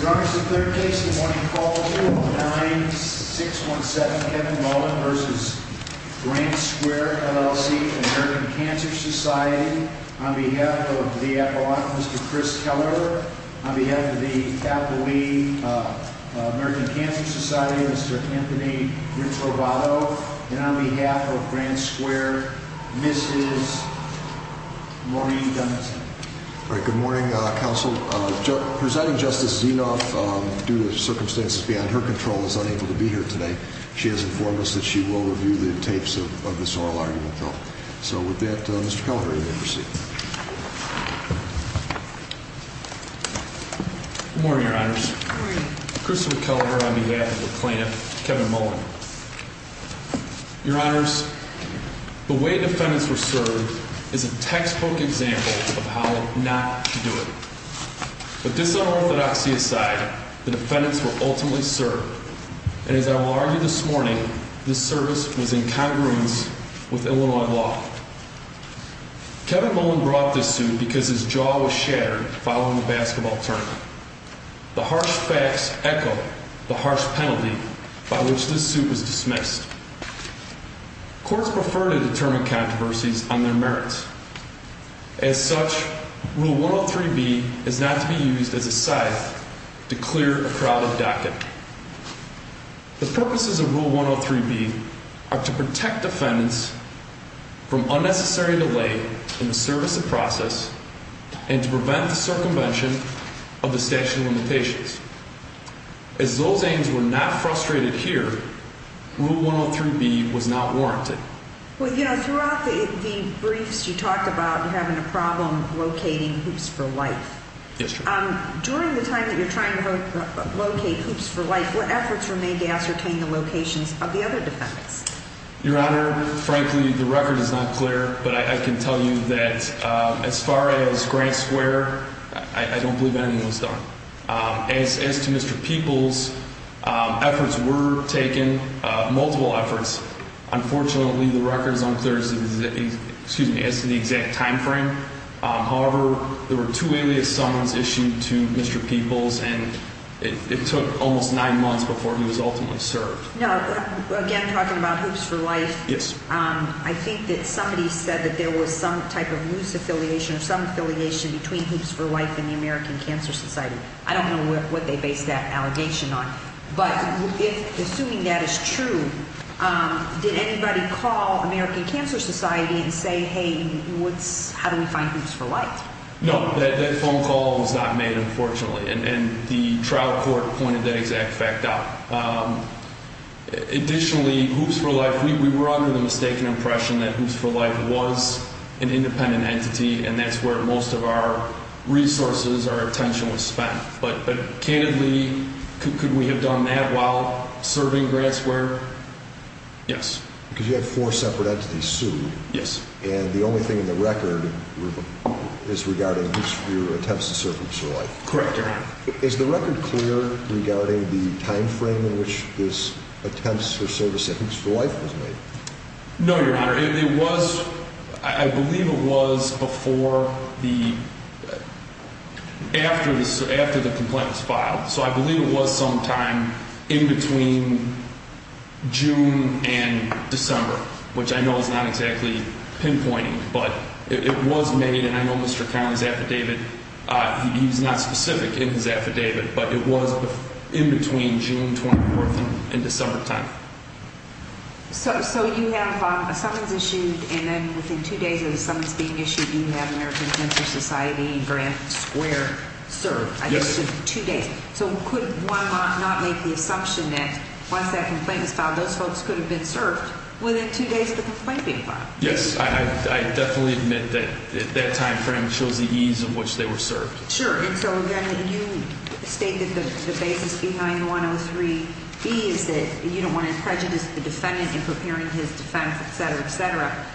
Your Honor, this is the third case in the morning call, 29617 Kevin Mullen v. Grant Square, LLC, American Cancer Society. On behalf of the appellant, Mr. Chris Keller. On behalf of the Tappalee American Cancer Society, Mr. Anthony Rintrovato. And on behalf of Grant Square, Mrs. Maureen Dunnison. Good morning, Counsel. Presiding Justice Zinoff, due to circumstances beyond her control, is unable to be here today. She has informed us that she will review the tapes of this oral argument, though. So with that, Mr. Keller, you may proceed. Good morning, Your Honors. Good morning. Christopher Keller on behalf of the plaintiff, Kevin Mullen. Your Honors, the way defendants were served is a textbook example of how not to do it. But this unorthodoxy aside, the defendants were ultimately served. And as I will argue this morning, this service was in congruence with Illinois law. Kevin Mullen brought this suit because his jaw was shattered following the basketball tournament. The harsh facts echo the harsh penalty by which this suit was dismissed. Courts prefer to determine controversies on their merits. As such, Rule 103B is not to be used as a scythe to clear a crowded docket. The purposes of Rule 103B are to protect defendants from unnecessary delay in the service of process and to prevent the circumvention of the statute of limitations. As those aims were not frustrated here, Rule 103B was not warranted. Well, you know, throughout the briefs you talked about having a problem locating hoops for life. Yes, Your Honor. During the time that you're trying to locate hoops for life, what efforts were made to ascertain the locations of the other defendants? Your Honor, frankly, the record is not clear. But I can tell you that as far as Grant Square, I don't believe anything was done. As to Mr. Peoples, efforts were taken, multiple efforts. Unfortunately, the record is unclear as to the exact time frame. However, there were two alias summons issued to Mr. Peoples, and it took almost nine months before he was ultimately served. No, again, talking about hoops for life. Yes. I think that somebody said that there was some type of loose affiliation or some affiliation between hoops for life and the American Cancer Society. I don't know what they based that allegation on. But assuming that is true, did anybody call American Cancer Society and say, hey, how do we find hoops for life? No, that phone call was not made, unfortunately. And the trial court pointed that exact fact out. Additionally, hoops for life, we were under the mistaken impression that hoops for life was an independent entity, and that's where most of our resources, our attention was spent. But candidly, could we have done that while serving Grant Square? Yes. Because you had four separate entities sued. Yes. And the only thing in the record is regarding hoops for your attempts to serve hoops for life. Correct, Your Honor. Is the record clear regarding the time frame in which this attempts to serve a sentence for life was made? No, Your Honor. It was, I believe it was before the, after the complaint was filed. So I believe it was sometime in between June and December, which I know is not exactly pinpointing, but it was made. I know Mr. Cownie's affidavit, he was not specific in his affidavit, but it was in between June 24th and December 10th. So you have a summons issued, and then within two days of the summons being issued, you have American Censor Society and Grant Square served. Yes. Two days. So could one not make the assumption that once that complaint was filed, those folks could have been served within two days of the complaint being filed? Yes. I definitely admit that that time frame shows the ease in which they were served. Sure. And so again, you state that the basis behind the 103E is that you don't want to prejudice the defendant in preparing his defense, etc., etc.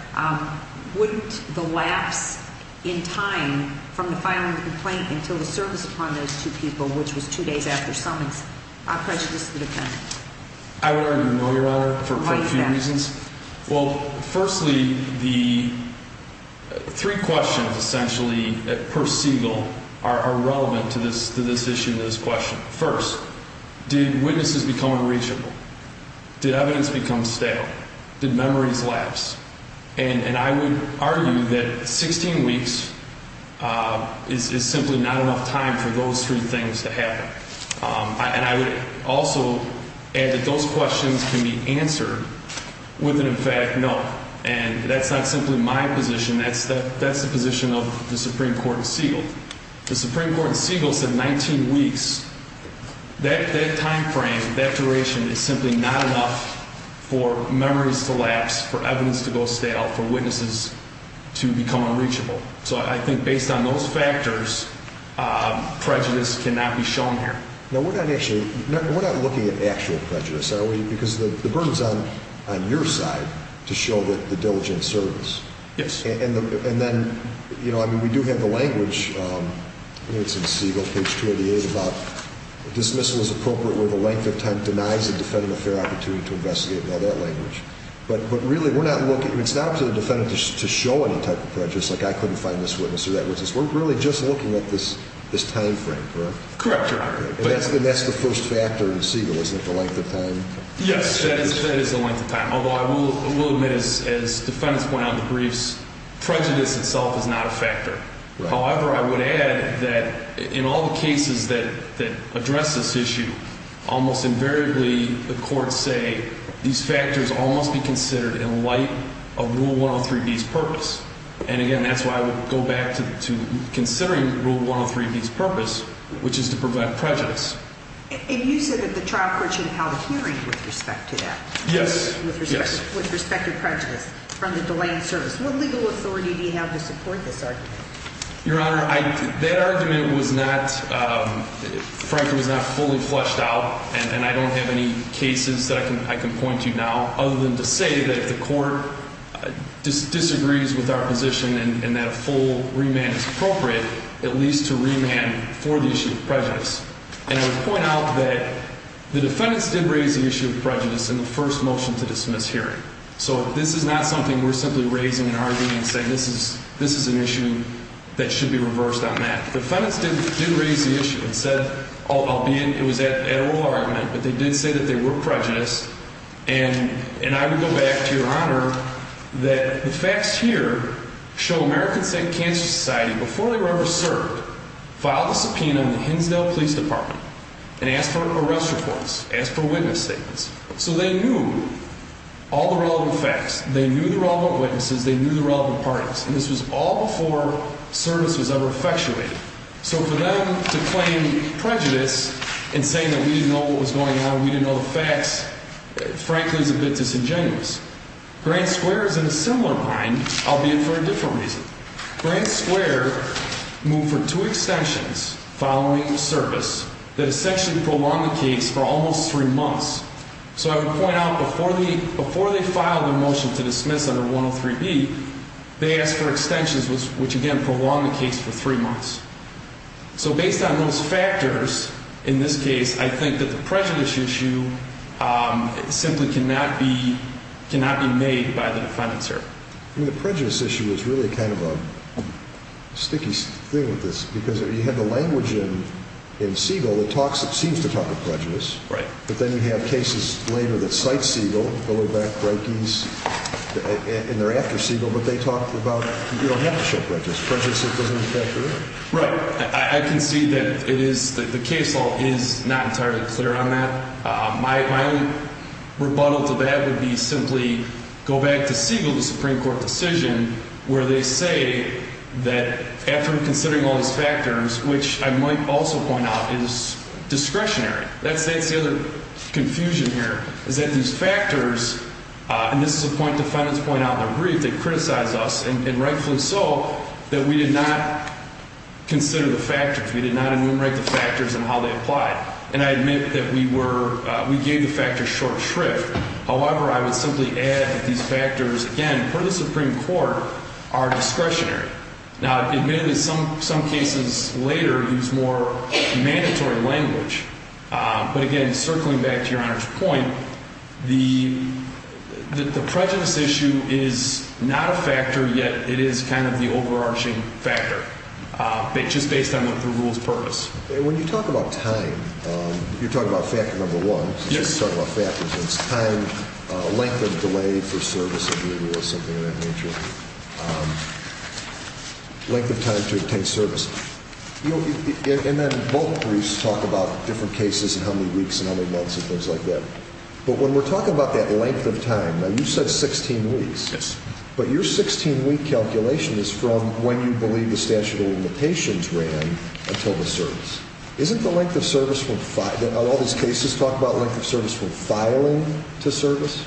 Wouldn't the lapse in time from the filing of the complaint until the service upon those two people, which was two days after summons, prejudice the defendant? I would argue no, Your Honor, for a few reasons. Why is that? Well, firstly, the three questions, essentially, per Siegel, are relevant to this issue and this question. First, did witnesses become unreachable? Did evidence become stale? Did memories lapse? And I would argue that 16 weeks is simply not enough time for those three things to happen. And I would also add that those questions can be answered with an emphatic no. And that's not simply my position. That's the position of the Supreme Court in Siegel. The Supreme Court in Siegel said 19 weeks. That time frame, that duration is simply not enough for memories to lapse, for evidence to go stale, for witnesses to become unreachable. So I think based on those factors, prejudice cannot be shown here. Now, we're not looking at actual prejudice, are we? Because the burden is on your side to show the diligent service. Yes. And then, you know, I mean, we do have the language. I think it's in Siegel, page 288, about dismissal is appropriate where the length of time denies the defendant a fair opportunity to investigate. We have that language. But really, it's not up to the defendant to show any type of prejudice, like I couldn't find this witness or that witness. We're really just looking at this time frame, correct? Correct, Your Honor. And that's the first factor in Siegel, isn't it, the length of time? Yes, that is the length of time. Although I will admit, as defendants point out in the briefs, prejudice itself is not a factor. However, I would add that in all the cases that address this issue, almost invariably the courts say these factors almost be considered in light of Rule 103B's purpose. And, again, that's why I would go back to considering Rule 103B's purpose, which is to prevent prejudice. And you said that the trial court should have held a hearing with respect to that. Yes. With respect to prejudice from the delay in service. What legal authority do you have to support this argument? Your Honor, that argument was not, frankly, was not fully fleshed out. And I don't have any cases that I can point to now other than to say that if the court disagrees with our position and that a full remand is appropriate, at least to remand for the issue of prejudice. And I would point out that the defendants did raise the issue of prejudice in the first motion to dismiss hearing. So this is not something we're simply raising and arguing and saying this is an issue that should be reversed on that. The defendants did raise the issue and said, albeit it was at oral argument, but they did say that they were prejudiced. And I would go back to, Your Honor, that the facts here show American Cancer Society, before they were ever served, filed a subpoena in the Hinsdale Police Department and asked for arrest reports, asked for witness statements. So they knew all the relevant facts. They knew the relevant witnesses. They knew the relevant parties. And this was all before service was ever effectuated. So for them to claim prejudice in saying that we didn't know what was going on, we didn't know the facts, frankly, is a bit disingenuous. Grand Square is in a similar line, albeit for a different reason. Grand Square moved for two extensions following service that essentially prolonged the case for almost three months. So I would point out before they filed a motion to dismiss under 103B, they asked for extensions, which again prolonged the case for three months. So based on those factors, in this case, I think that the prejudice issue simply cannot be made by the defendants here. I mean, the prejudice issue is really kind of a sticky thing with this because you have the language in Siegel that seems to talk of prejudice. Right. But then you have cases later that cite Siegel, Filler, Beck, Reikes, and they're after Siegel, but they talk about you don't have to show prejudice. Prejudice, it doesn't affect you. Right. I concede that the case law is not entirely clear on that. My own rebuttal to that would be simply go back to Siegel, the Supreme Court decision, where they say that after considering all these factors, which I might also point out is discretionary. That's the other confusion here is that these factors, and this is a point defendants point out in their brief, they criticize us, and rightfully so, that we did not consider the factors. We did not enumerate the factors and how they apply. And I admit that we gave the factors short shrift. However, I would simply add that these factors, again, per the Supreme Court, are discretionary. Now, admittedly, some cases later use more mandatory language. But, again, circling back to Your Honor's point, the prejudice issue is not a factor, yet it is kind of the overarching factor, just based on the rule's purpose. When you talk about time, you're talking about factor number one. Yes. You're talking about factors. It's time, length of delay for service of duty or something of that nature, length of time to obtain service. And then both briefs talk about different cases and how many weeks and how many months and things like that. But when we're talking about that length of time, now, you said 16 weeks. Yes. But your 16-week calculation is from when you believe the statute of limitations ran until the service. Isn't the length of service when all those cases talk about length of service from filing to service?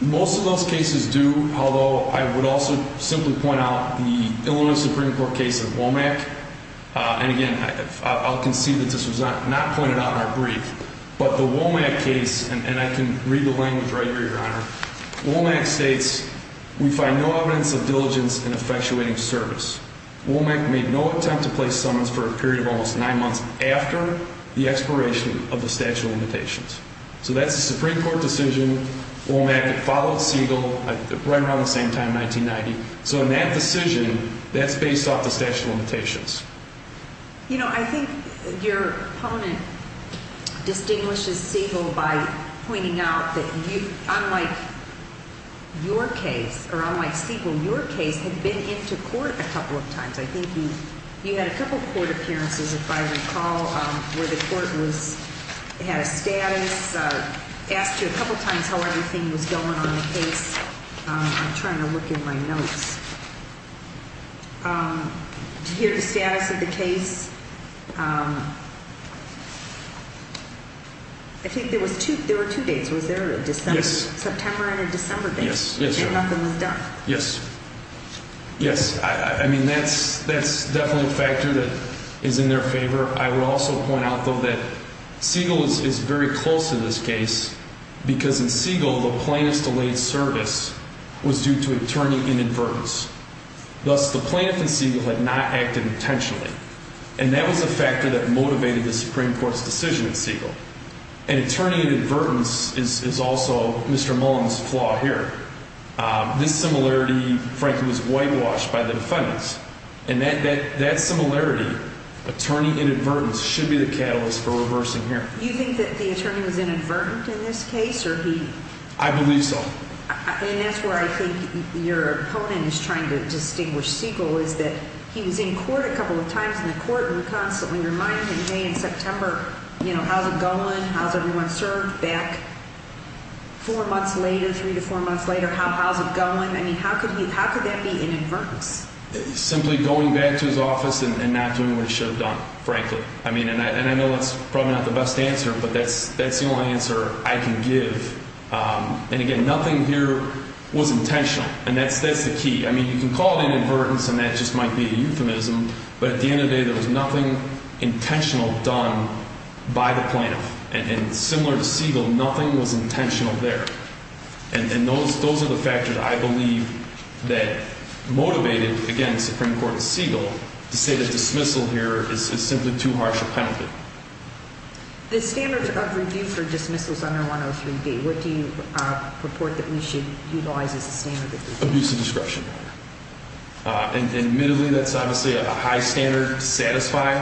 Most of those cases do, although I would also simply point out the Illinois Supreme Court case of WOMAC. And, again, I'll concede that this was not pointed out in our brief. But the WOMAC case, and I can read the language right here, Your Honor. WOMAC states, we find no evidence of diligence in effectuating service. WOMAC made no attempt to place summons for a period of almost nine months after the expiration of the statute of limitations. So that's a Supreme Court decision. WOMAC followed Siegel right around the same time, 1990. So in that decision, that's based off the statute of limitations. You know, I think your opponent distinguishes Siegel by pointing out that, unlike your case, or unlike Siegel, your case had been into court a couple of times. I think you had a couple of court appearances, if I recall, where the court had a status, asked you a couple of times how everything was going on the case. I'm trying to look in my notes. Did you hear the status of the case? I think there were two dates. Was there a September and a December date? Yes, yes, Your Honor. And nothing was done? Yes. Yes. I mean, that's definitely a factor that is in their favor. I will also point out, though, that Siegel is very close in this case because, in Siegel, the plaintiff's delayed service was due to a turning inadvertence. Thus, the plaintiff in Siegel had not acted intentionally. And that was a factor that motivated the Supreme Court's decision in Siegel. And a turning inadvertence is also Mr. Mullen's flaw here. This similarity, frankly, was whitewashed by the defendants. And that similarity, a turning inadvertence, should be the catalyst for reversing here. Do you think that the attorney was inadvertent in this case, or he? I believe so. And that's where I think your opponent is trying to distinguish Siegel, is that he was in court a couple of times in the court, and we constantly reminded him, hey, in September, you know, how's it going? How's everyone served? Back four months later, three to four months later, how's it going? I mean, how could that be inadvertence? Simply going back to his office and not doing what he should have done, frankly. I mean, and I know that's probably not the best answer, but that's the only answer I can give. And, again, nothing here was intentional, and that's the key. I mean, you can call it inadvertence, and that just might be a euphemism, but at the end of the day, there was nothing intentional done by the plaintiff. And similar to Siegel, nothing was intentional there. And those are the factors, I believe, that motivated, again, the Supreme Court of Siegel to say that dismissal here is simply too harsh a benefit. The standards of review for dismissals under 103B, what do you purport that we should utilize as a standard of review? Abuse of discretion. Admittedly, that's obviously a high standard to satisfy.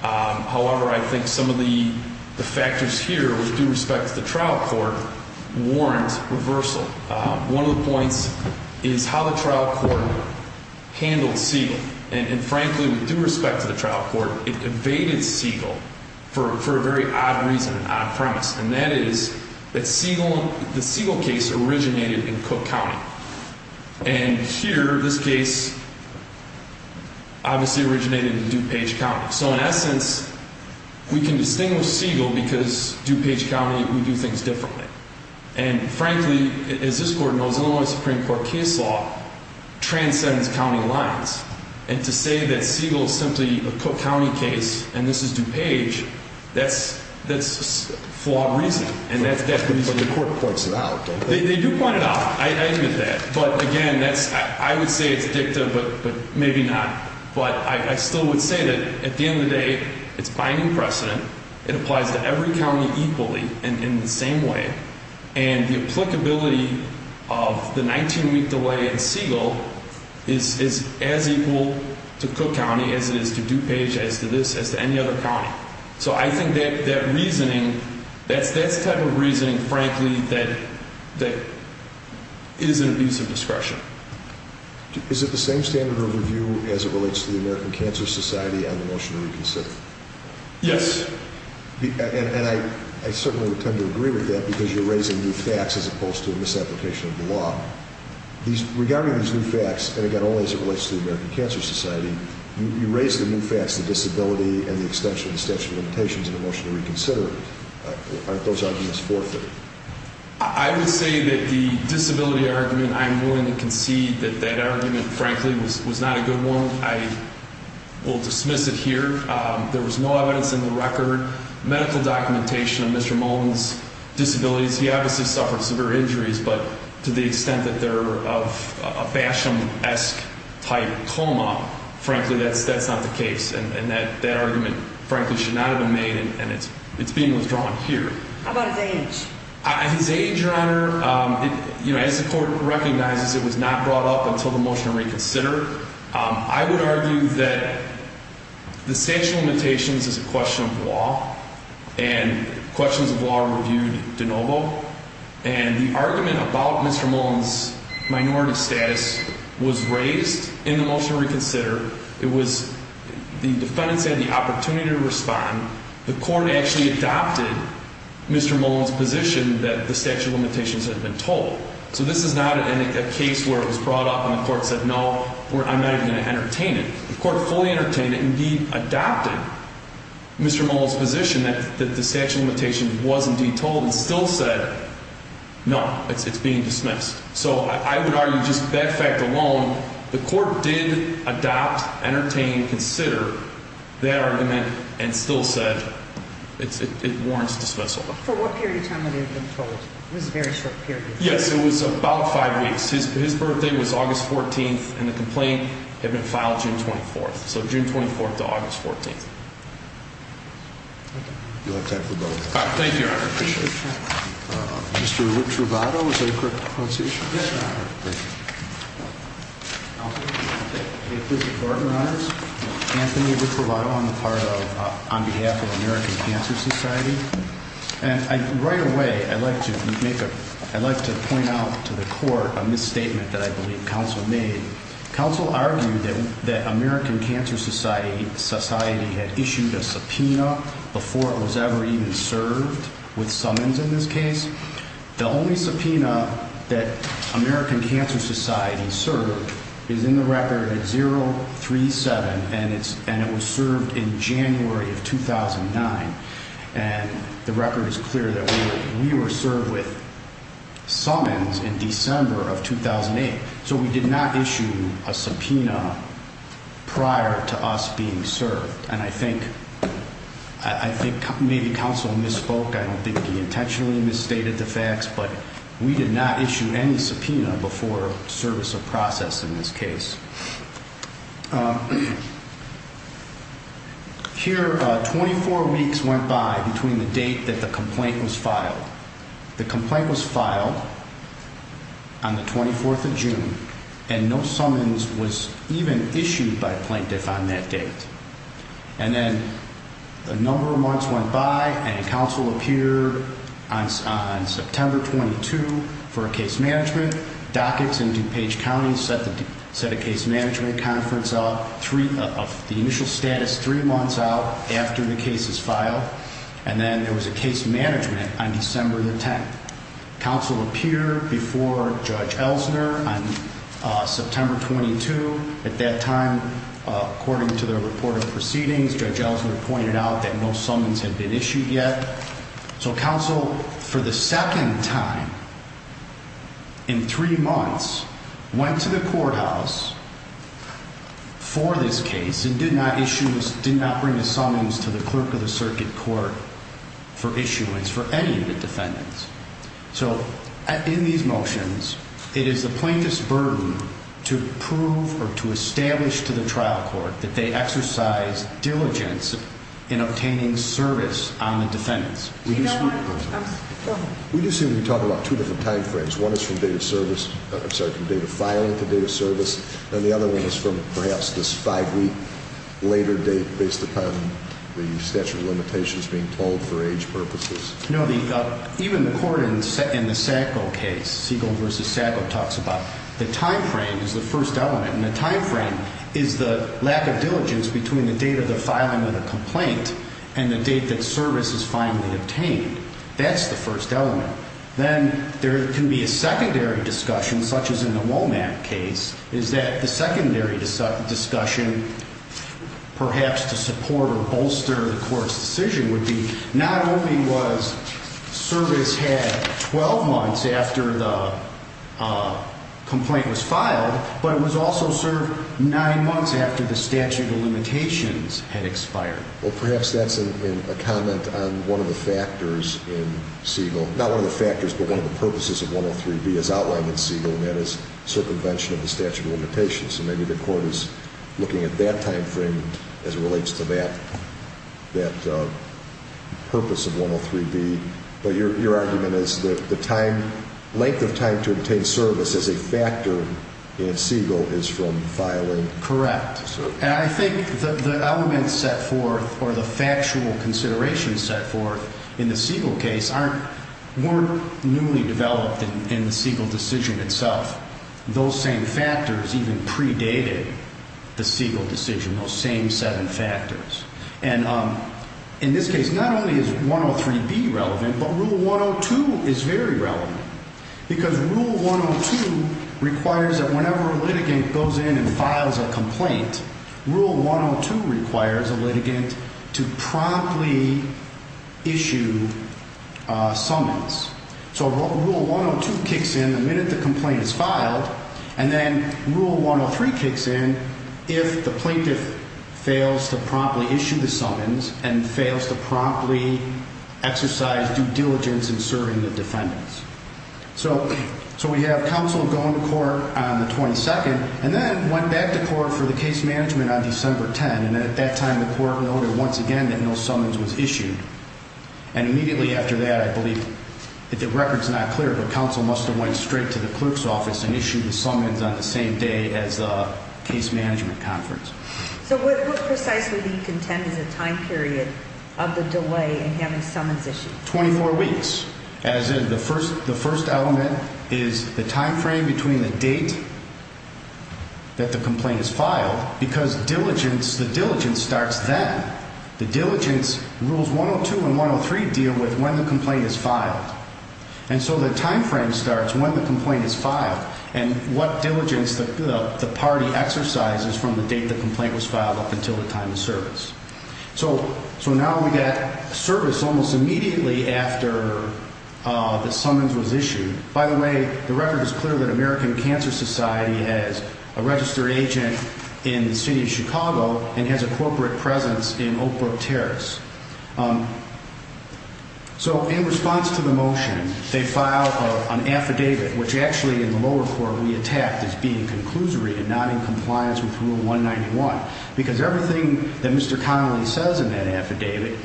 However, I think some of the factors here, with due respect to the trial court, warrant reversal. One of the points is how the trial court handled Siegel. And, frankly, with due respect to the trial court, it evaded Siegel for a very odd reason, an odd premise, and that is that the Siegel case originated in Cook County. And here, this case obviously originated in DuPage County. So, in essence, we can distinguish Siegel because DuPage County, we do things differently. And, frankly, as this Court knows, Illinois Supreme Court case law transcends county lines. And to say that Siegel is simply a Cook County case and this is DuPage, that's flawed reasoning. But the court points it out, don't they? They do point it out. I admit that. But, again, I would say it's addictive, but maybe not. But I still would say that, at the end of the day, it's binding precedent. It applies to every county equally and in the same way. And the applicability of the 19-week delay in Siegel is as equal to Cook County as it is to DuPage, as to this, as to any other county. So I think that that reasoning, that's the type of reasoning, frankly, that is an abuse of discretion. Is it the same standard of review as it relates to the American Cancer Society on the motion to reconsider? Yes. And I certainly would tend to agree with that because you're raising new facts as opposed to a misapplication of the law. Regarding these new facts, and, again, only as it relates to the American Cancer Society, you raise the new facts, the disability and the extension of the statute of limitations in the motion to reconsider it. Aren't those arguments forfeited? I would say that the disability argument, I'm willing to concede that that argument, frankly, was not a good one. I will dismiss it here. There was no evidence in the record, medical documentation of Mr. Mullen's disabilities. He obviously suffered severe injuries, but to the extent that they're of a Basham-esque type coma, frankly, that's not the case. And that argument, frankly, should not have been made, and it's being withdrawn here. How about his age? His age, Your Honor, as the court recognizes, it was not brought up until the motion to reconsider. I would argue that the statute of limitations is a question of law, and questions of law are reviewed de novo. And the argument about Mr. Mullen's minority status was raised in the motion to reconsider. It was the defendants had the opportunity to respond. The court actually adopted Mr. Mullen's position that the statute of limitations had been told. So this is not a case where it was brought up and the court said, no, I'm not even going to entertain it. The court fully entertained it and indeed adopted Mr. Mullen's position that the statute of limitations was indeed told and still said, no, it's being dismissed. So I would argue just that fact alone, the court did adopt, entertain, consider that argument and still said it warrants dismissal. For what period of time would it have been told? It was a very short period of time. Yes, it was about five weeks. His birthday was August 14th, and the complaint had been filed June 24th. So June 24th to August 14th. You'll have time for both. Thank you, Your Honor. I appreciate it. Mr. Richrovato, is that a correct pronunciation? Yes, Your Honor. Thank you. I'm Anthony Richrovato. I'm on behalf of American Cancer Society. And right away, I'd like to point out to the court a misstatement that I believe counsel made. Counsel argued that American Cancer Society had issued a subpoena before it was ever even served with summons in this case. The only subpoena that American Cancer Society served is in the record 037, and it was served in January of 2009. And the record is clear that we were served with summons in December of 2008. So we did not issue a subpoena prior to us being served. And I think maybe counsel misspoke. I don't think he intentionally misstated the facts, but we did not issue any subpoena before service of process in this case. Here, 24 weeks went by between the date that the complaint was filed. The complaint was filed on the 24th of June, and no summons was even issued by plaintiff on that date. And then a number of months went by, and counsel appeared on September 22 for a case management. Dockets in DuPage County set a case management conference of the initial status three months out after the case is filed. And then there was a case management on December the 10th. Counsel appeared before Judge Elsner on September 22. At that time, according to their report of proceedings, Judge Elsner pointed out that no summons had been issued yet. So counsel, for the second time in three months, went to the courthouse for this case and did not issue, did not bring a summons to the clerk of the circuit court for issuance for any of the defendants. So in these motions, it is the plaintiff's burden to prove or to establish to the trial court that they exercised diligence in obtaining service on the defendants. We do see when we talk about two different time frames. One is from date of filing to date of service, and the other one is from perhaps this five-week later date based upon the statute of limitations being pulled for age purposes. No, even the court in the Sacco case, Siegel v. Sacco, talks about the time frame is the first element. And the time frame is the lack of diligence between the date of the filing of the complaint and the date that service is finally obtained. That's the first element. Then there can be a secondary discussion, such as in the Womack case, is that the secondary discussion perhaps to support or bolster the court's decision would be not only was service had 12 months after the complaint was filed, but it was also served nine months after the statute of limitations had expired. Well, perhaps that's a comment on one of the factors in Siegel. Not one of the factors, but one of the purposes of 103B as outlined in Siegel, and that is circumvention of the statute of limitations. And maybe the court is looking at that time frame as it relates to that purpose of 103B. But your argument is that the length of time to obtain service as a factor in Siegel is from filing service. Correct. And I think the elements set forth or the factual considerations set forth in the Siegel case weren't newly developed in the Siegel decision itself. Those same factors even predated the Siegel decision, those same seven factors. And in this case, not only is 103B relevant, but Rule 102 is very relevant because Rule 102 requires that whenever a litigant goes in and files a complaint, Rule 102 requires a litigant to promptly issue summons. So Rule 102 kicks in the minute the complaint is filed, and then Rule 103 kicks in if the plaintiff fails to promptly issue the summons and fails to promptly exercise due diligence in serving the defendants. So we have counsel going to court on the 22nd and then went back to court for the case management on December 10. And at that time, the court noted once again that no summons was issued. And immediately after that, I believe, if the record's not clear, the counsel must have went straight to the clerk's office and issued the summons on the same day as the case management conference. So what precisely do you contend is the time period of the delay in having summons issued? Twenty-four weeks, as in the first element is the time frame between the date that the complaint is filed because the diligence starts then. The diligence, Rules 102 and 103 deal with when the complaint is filed. And so the time frame starts when the complaint is filed and what diligence the party exercises from the date the complaint was filed up until the time of service. So now we've got service almost immediately after the summons was issued. By the way, the record is clear that American Cancer Society has a registered agent in the city of Chicago and has a corporate presence in Oak Brook Terrace. So in response to the motion, they file an affidavit, which actually in the lower court we attacked as being conclusory and not in compliance with Rule 191 because everything that Mr. Connolly says in that affidavit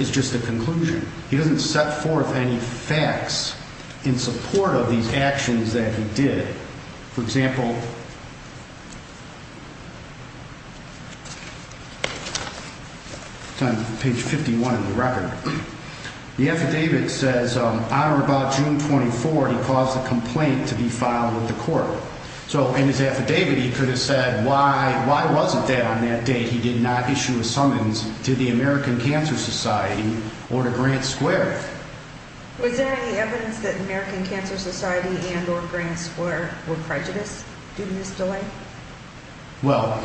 is just a conclusion. He doesn't set forth any facts in support of these actions that he did. For example, page 51 of the record, the affidavit says on or about June 24, he caused a complaint to be filed with the court. So in his affidavit he could have said why wasn't that on that date? He did not issue a summons to the American Cancer Society or to Grant Square. Was there any evidence that American Cancer Society and or Grant Square were prejudiced due to this delay? Well,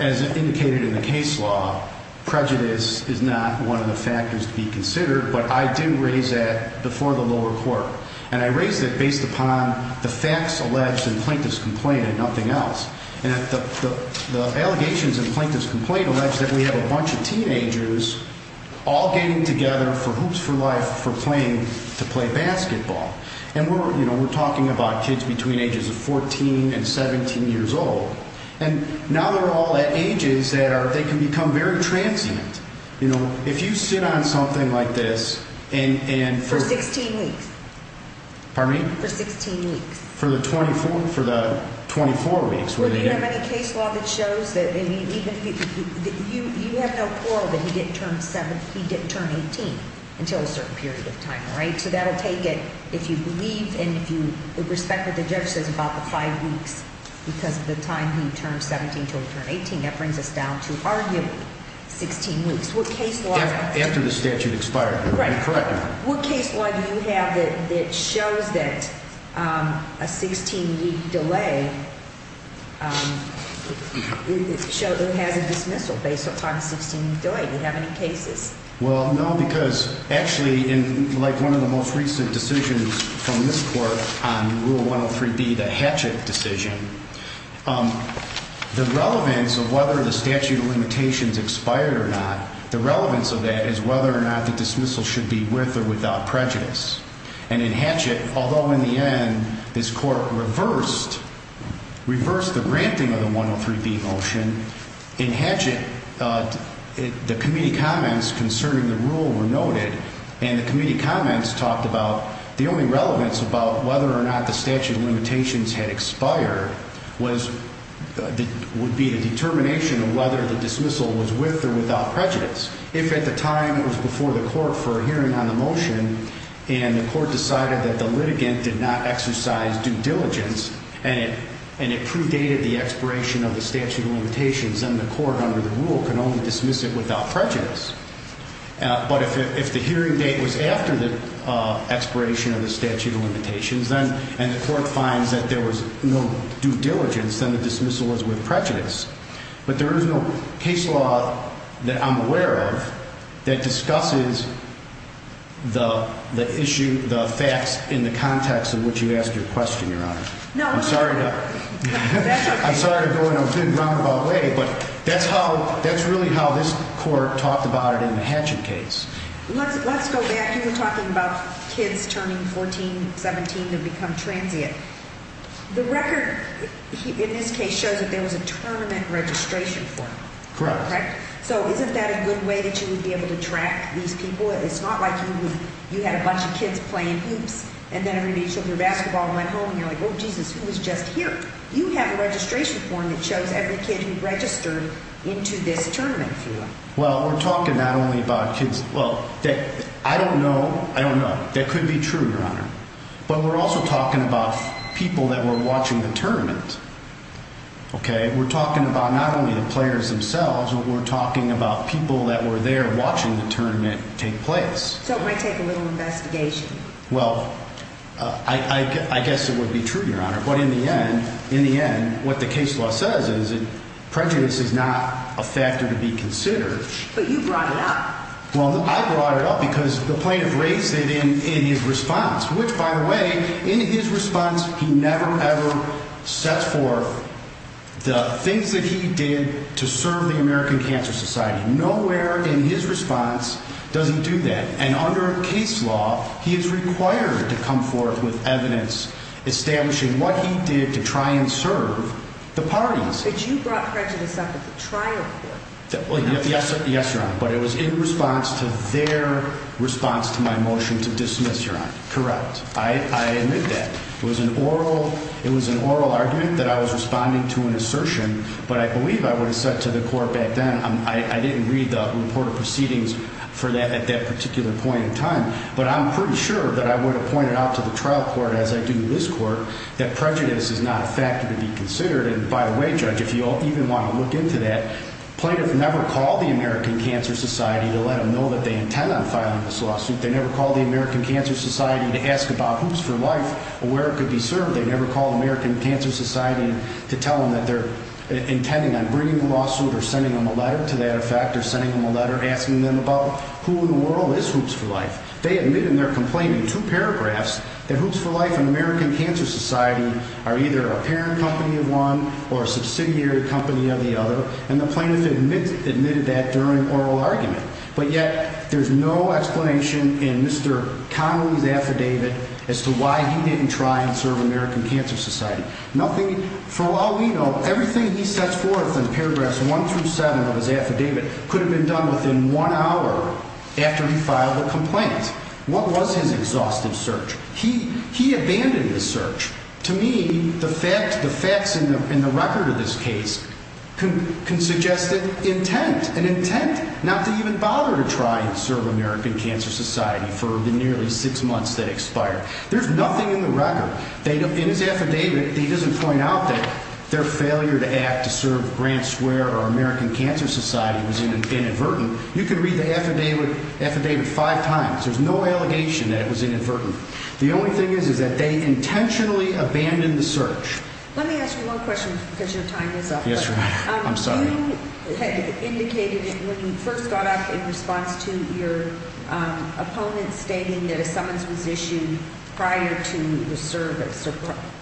as indicated in the case law, prejudice is not one of the factors to be considered, but I did raise that before the lower court, and I raised it based upon the facts alleged in Plaintiff's complaint and nothing else. The allegations in Plaintiff's complaint allege that we have a bunch of teenagers all getting together for hoops for life for playing to play basketball. And we're talking about kids between the ages of 14 and 17 years old, and now they're all at ages that they can become very transient. If you sit on something like this and for 16 weeks. Pardon me? For 16 weeks. For the 24 weeks. Do you have any case law that shows that you have no quarrel that he didn't turn 18 until a certain period of time, right? So that will take it if you believe and if you respect what the judge says about the five weeks because of the time he turned 17 until he turned 18. That brings us down to arguably 16 weeks. After the statute expired. Correct. What case law do you have that shows that a 16-week delay has a dismissal based upon a 16-week delay? Do you have any cases? Well, no, because actually in like one of the most recent decisions from this court on Rule 103B, the Hatchett decision, the relevance of whether the statute of limitations expired or not, the relevance of that is whether or not the dismissal should be with or without prejudice. And in Hatchett, although in the end this court reversed the granting of the 103B motion, in Hatchett the committee comments concerning the rule were noted, and the committee comments talked about the only relevance about whether or not the statute of limitations had expired would be the determination of whether the dismissal was with or without prejudice. If at the time it was before the court for a hearing on the motion and the court decided that the litigant did not exercise due diligence and it predated the expiration of the statute of limitations, then the court under the rule can only dismiss it without prejudice. But if the hearing date was after the expiration of the statute of limitations, and the court finds that there was no due diligence, then the dismissal was with prejudice. But there is no case law that I'm aware of that discusses the issue, the facts, in the context in which you asked your question, Your Honor. I'm sorry to go in a roundabout way, but that's really how this court talked about it in the Hatchett case. Let's go back. You were talking about kids turning 14, 17 to become transient. The record in this case shows that there was a tournament registration form. Correct. So isn't that a good way that you would be able to track these people? It's not like you had a bunch of kids playing hoops and then everybody showed their basketball and went home and you're like, oh, Jesus, who was just here? You have a registration form that shows every kid who registered into this tournament. Well, we're talking not only about kids. Well, I don't know. I don't know. That could be true, Your Honor. But we're also talking about people that were watching the tournament. OK, we're talking about not only the players themselves, but we're talking about people that were there watching the tournament take place. So it might take a little investigation. Well, I guess it would be true, Your Honor. But in the end, in the end, what the case law says is that prejudice is not a factor to be considered. But you brought it up. Well, I brought it up because the plaintiff raised it in his response, which, by the way, in his response, he never, ever sets forth the things that he did to serve the American Cancer Society. Nowhere in his response does he do that. And under case law, he is required to come forth with evidence establishing what he did to try and serve the parties. But you brought prejudice up at the trial court. Yes, Your Honor. But it was in response to their response to my motion to dismiss, Your Honor. Correct. I admit that. It was an oral argument that I was responding to an assertion. But I believe I would have said to the court back then, I didn't read the report of proceedings for that at that particular point in time. But I'm pretty sure that I would have pointed out to the trial court, as I do this court, that prejudice is not a factor to be considered. And, by the way, Judge, if you even want to look into that, plaintiff never called the American Cancer Society to let them know that they intend on filing this lawsuit. They never called the American Cancer Society to ask about hoops for life or where it could be served. They never called the American Cancer Society to tell them that they're intending on bringing a lawsuit or sending them a letter to that effect or sending them a letter asking them about who in the world is hoops for life. They admit in their complaint in two paragraphs that hoops for life and American Cancer Society are either a parent company of one or a subsidiary company of the other. And the plaintiff admitted that during oral argument. But yet there's no explanation in Mr. Connolly's affidavit as to why he didn't try and serve American Cancer Society. For all we know, everything he sets forth in paragraphs one through seven of his affidavit could have been done within one hour after he filed a complaint. What was his exhaustive search? He abandoned his search. To me, the facts in the record of this case can suggest that intent, an intent not to even bother to try and serve American Cancer Society for the nearly six months that expired. There's nothing in the record. In his affidavit, he doesn't point out that their failure to act to serve Grant Square or American Cancer Society was inadvertent. You can read the affidavit five times. There's no allegation that it was inadvertent. The only thing is, is that they intentionally abandoned the search. Let me ask you one question because your time is up. Yes, ma'am. I'm sorry. You had indicated when you first got up in response to your opponent stating that a summons was issued prior to the service or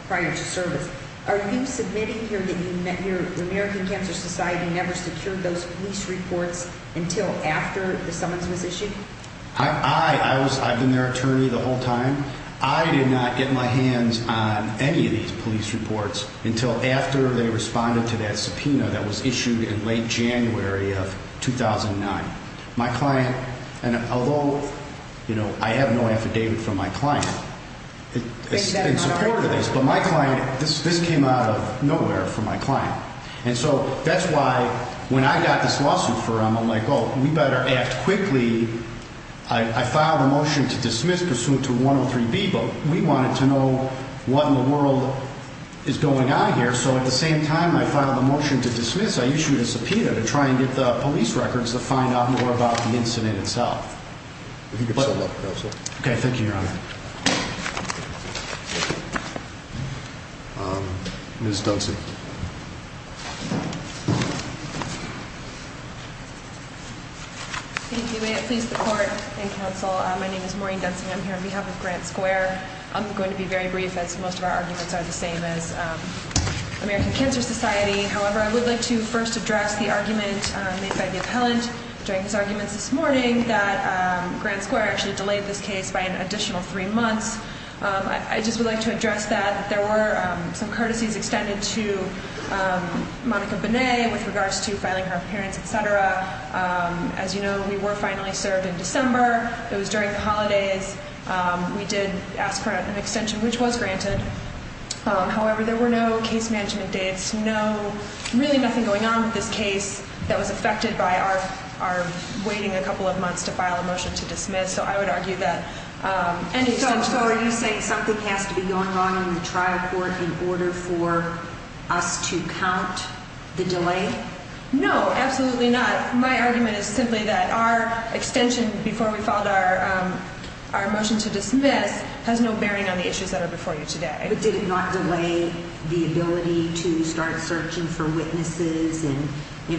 prior to service. Are you submitting here that your American Cancer Society never secured those police reports until after the summons was issued? I, I was, I've been their attorney the whole time. I did not get my hands on any of these police reports until after they responded to that subpoena that was issued in late January of 2009. My client, and although, you know, I have no affidavit from my client in support of this, but my client, this came out of nowhere from my client. And so that's why when I got this lawsuit for him, I'm like, oh, we better act quickly. I filed a motion to dismiss pursuant to 103B, but we wanted to know what in the world is going on here. So at the same time I filed a motion to dismiss, I issued a subpoena to try and get the police records to find out more about the incident itself. You can get a sum up, counsel. Okay, thank you, Your Honor. Ms. Dunson. Thank you. May it please the court and counsel, my name is Maureen Dunson. I'm here on behalf of Grant Square. I'm going to be very brief as most of our arguments are the same as American Cancer Society. However, I would like to first address the argument made by the appellant during his arguments this morning that Grant Square actually delayed this case by an additional three months. I just would like to address that there were some courtesies extended to Monica Bonet with regards to filing her appearance, et cetera. As you know, we were finally served in December. It was during the holidays. We did ask for an extension, which was granted. However, there were no case management dates, really nothing going on with this case that was affected by our waiting a couple of months to file a motion to dismiss. So I would argue that an extension was necessary. So are you saying something has to be going on in the trial court in order for us to count the delay? No, absolutely not. My argument is simply that our extension before we filed our motion to dismiss has no bearing on the issues that are before you today. But did it not delay the ability to start searching for witnesses and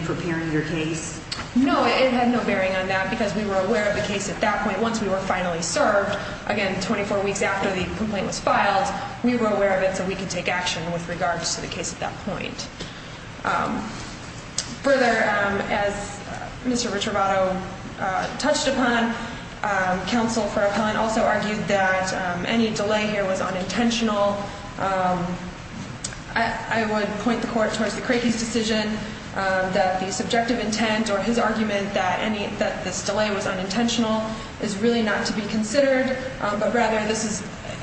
preparing your case? No, it had no bearing on that because we were aware of the case at that point. Once we were finally served, again, 24 weeks after the complaint was filed, we were aware of it so we could take action with regards to the case at that point. Further, as Mr. Ricciarobato touched upon, counsel for appellant also argued that any delay here was unintentional. I would point the court towards the Crakey's decision that the subjective intent or his argument that this delay was unintentional is really not to be considered. But rather,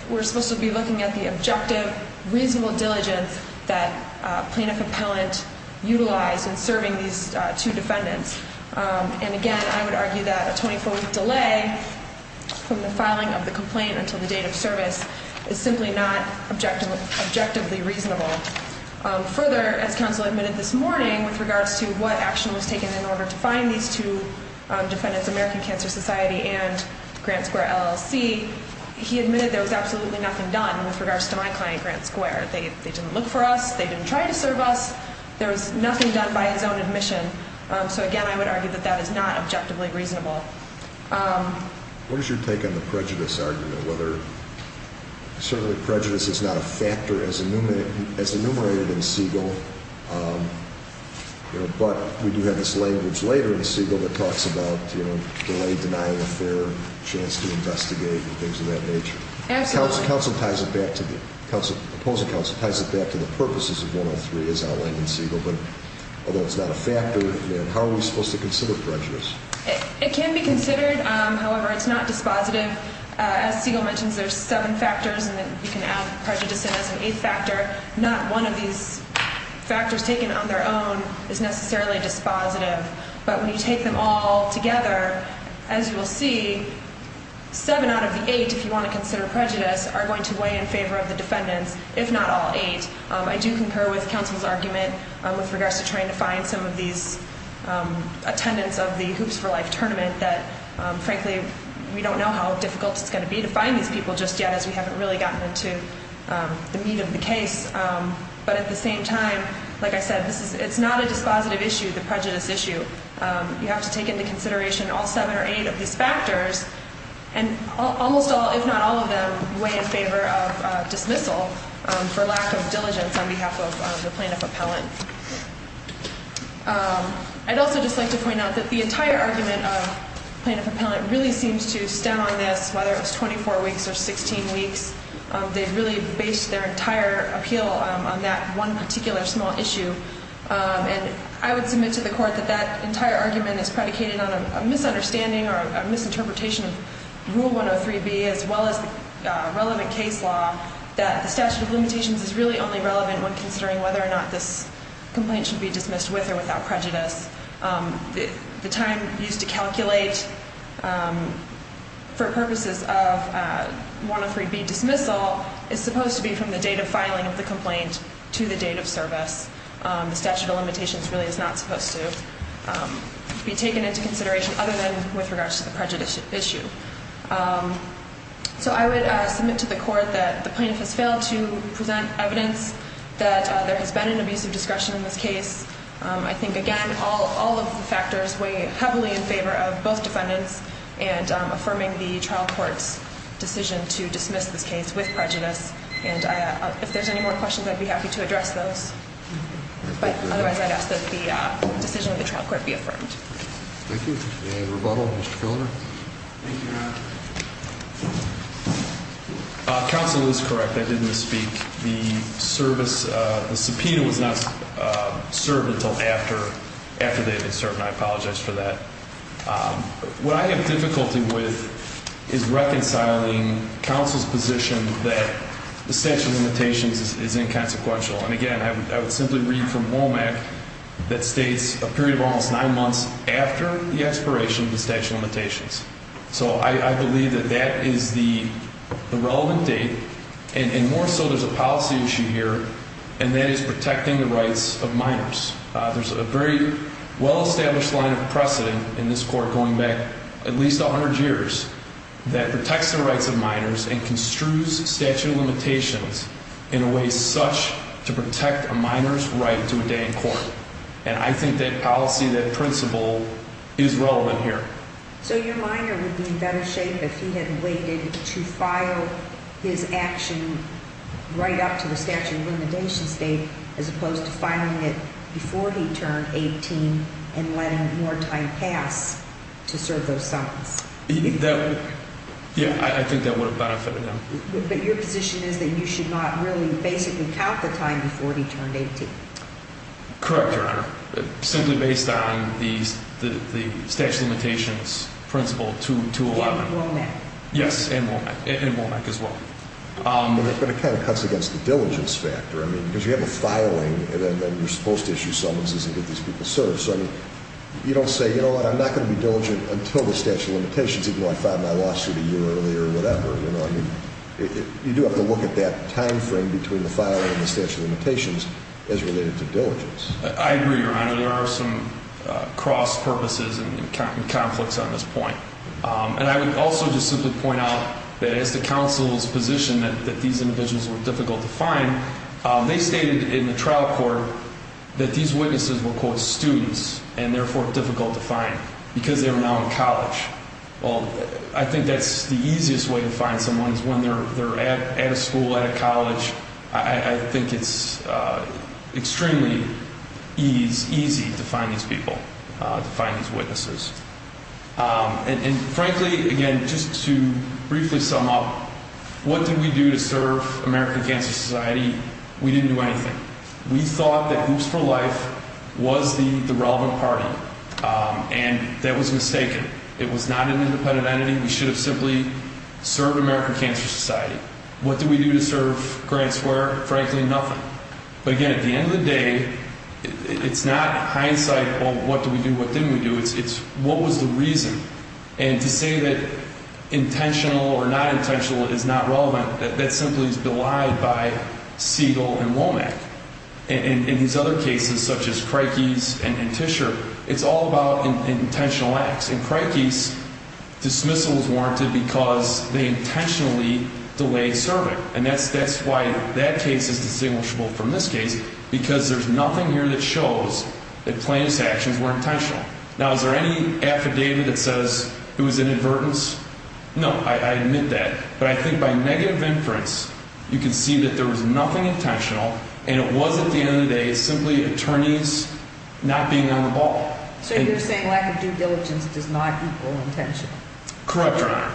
we're supposed to be looking at the objective, reasonable diligence that plaintiff appellant utilized in serving these two defendants. And again, I would argue that a 24-week delay from the filing of the complaint until the date of service is simply not objectively reasonable. Further, as counsel admitted this morning with regards to what action was taken in order to find these two defendants, American Cancer Society and Grant Square LLC, he admitted there was absolutely nothing done with regards to my client, Grant Square. They didn't look for us. They didn't try to serve us. There was nothing done by his own admission. So again, I would argue that that is not objectively reasonable. What is your take on the prejudice argument? Certainly prejudice is not a factor as enumerated in Siegel, but we do have this language later in Siegel that talks about delay denying a fair chance to investigate and things of that nature. Absolutely. Counsel ties it back to the purposes of 103 as outlined in Siegel, but although it's not a factor, how are we supposed to consider prejudice? It can be considered. However, it's not dispositive. As Siegel mentions, there's seven factors, and then you can add prejudice in as an eighth factor. Not one of these factors taken on their own is necessarily dispositive. But when you take them all together, as you will see, seven out of the eight, if you want to consider prejudice, are going to weigh in favor of the defendants, if not all eight. I do concur with counsel's argument with regards to trying to find some of these attendants of the Hoops for Life tournament that, frankly, we don't know how difficult it's going to be to find these people just yet as we haven't really gotten into the meat of the case. But at the same time, like I said, it's not a dispositive issue, the prejudice issue. You have to take into consideration all seven or eight of these factors, and almost all, if not all of them, weigh in favor of dismissal for lack of diligence on behalf of the plaintiff appellant. I'd also just like to point out that the entire argument of plaintiff appellant really seems to stem on this, whether it was 24 weeks or 16 weeks. They really based their entire appeal on that one particular small issue. And I would submit to the court that that entire argument is predicated on a misunderstanding or a misinterpretation of Rule 103B, as well as the relevant case law, that the statute of limitations is really only relevant when considering whether or not this complaint should be dismissed with or without prejudice. The time used to calculate, for purposes of 103B dismissal, is supposed to be from the date of filing of the complaint to the date of service. The statute of limitations really is not supposed to be taken into consideration other than with regards to the prejudice issue. So I would submit to the court that the plaintiff has failed to present evidence that there has been an abuse of discretion in this case. I think, again, all of the factors weigh heavily in favor of both defendants and affirming the trial court's decision to dismiss this case with prejudice. And if there's any more questions, I'd be happy to address those. But otherwise, I'd ask that the decision of the trial court be affirmed. Thank you. Any rebuttal? Mr. Filner? Thank you, Your Honor. Counsel is correct. I didn't speak. The subpoena was not served until after they had been served, and I apologize for that. What I have difficulty with is reconciling counsel's position that the statute of limitations is inconsequential. And, again, I would simply read from WOMAC that states a period of almost nine months after the expiration of the statute of limitations. So I believe that that is the relevant date, and more so there's a policy issue here, and that is protecting the rights of minors. There's a very well-established line of precedent in this court going back at least 100 years that protects the rights of minors and construes statute of limitations in a way such to protect a minor's right to a day in court. And I think that policy, that principle, is relevant here. So your minor would be in better shape if he had waited to file his action right up to the statute of limitations date as opposed to filing it before he turned 18 and letting more time pass to serve those summons. Yeah, I think that would have benefited him. But your position is that you should not really basically count the time before he turned 18. Correct, Your Honor. Simply based on the statute of limitations principle 211. And WOMAC. Yes, and WOMAC. And WOMAC as well. But it kind of cuts against the diligence factor. I mean, because you have a filing, and then you're supposed to issue summonses and get these people served. So, I mean, you don't say, you know what, I'm not going to be diligent until the statute of limitations, even though I filed my lawsuit a year earlier or whatever. You do have to look at that time frame between the filing and the statute of limitations as related to diligence. I agree, Your Honor. There are some cross-purposes and conflicts on this point. And I would also just simply point out that as the counsel's position that these individuals were difficult to find, they stated in the trial court that these witnesses were, quote, students and therefore difficult to find because they were now in college. Well, I think that's the easiest way to find someone is when they're at a school, at a college. I think it's extremely easy to find these people, to find these witnesses. And, frankly, again, just to briefly sum up, what did we do to serve American Cancer Society? We didn't do anything. We thought that Hoops for Life was the relevant party. And that was mistaken. It was not an independent entity. We should have simply served American Cancer Society. What did we do to serve Grand Square? Frankly, nothing. But, again, at the end of the day, it's not hindsight of what did we do, what didn't we do. It's what was the reason. And to say that intentional or not intentional is not relevant, that simply is belied by Siegel and Womack. In these other cases, such as Crikey's and Tischer, it's all about intentional acts. In Crikey's, dismissal is warranted because they intentionally delayed serving. And that's why that case is distinguishable from this case, because there's nothing here that shows that plaintiff's actions were intentional. Now, is there any affidavit that says it was inadvertence? No, I admit that. But I think by negative inference, you can see that there was nothing intentional. And it was, at the end of the day, simply attorneys not being on the ball. So you're saying lack of due diligence does not equal intention. Correct, Your Honor.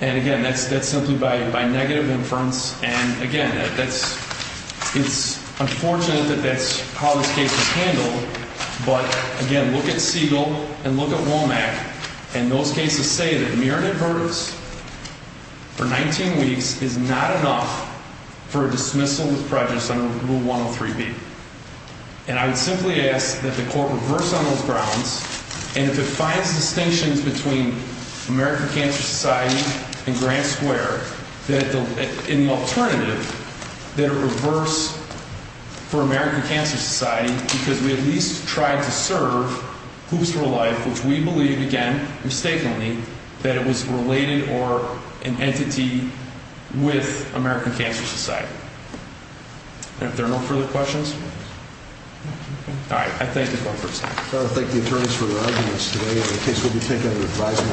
And, again, that's simply by negative inference. And, again, it's unfortunate that that's how this case is handled. But, again, look at Siegel and look at Womack. And those cases say that mere inadvertence for 19 weeks is not enough for a dismissal with prejudice under Rule 103B. And I would simply ask that the court reverse on those grounds, and if it finds distinctions between American Cancer Society and Grant Square, in the alternative, that it reverse for American Cancer Society because we at least tried to serve Hoops for Life, which we believe, again, mistakenly, that it was related or an entity with American Cancer Society. And if there are no further questions? All right. I thank the court for its time. I thank the attorneys for their arguments today. And the case will be taken under advisement.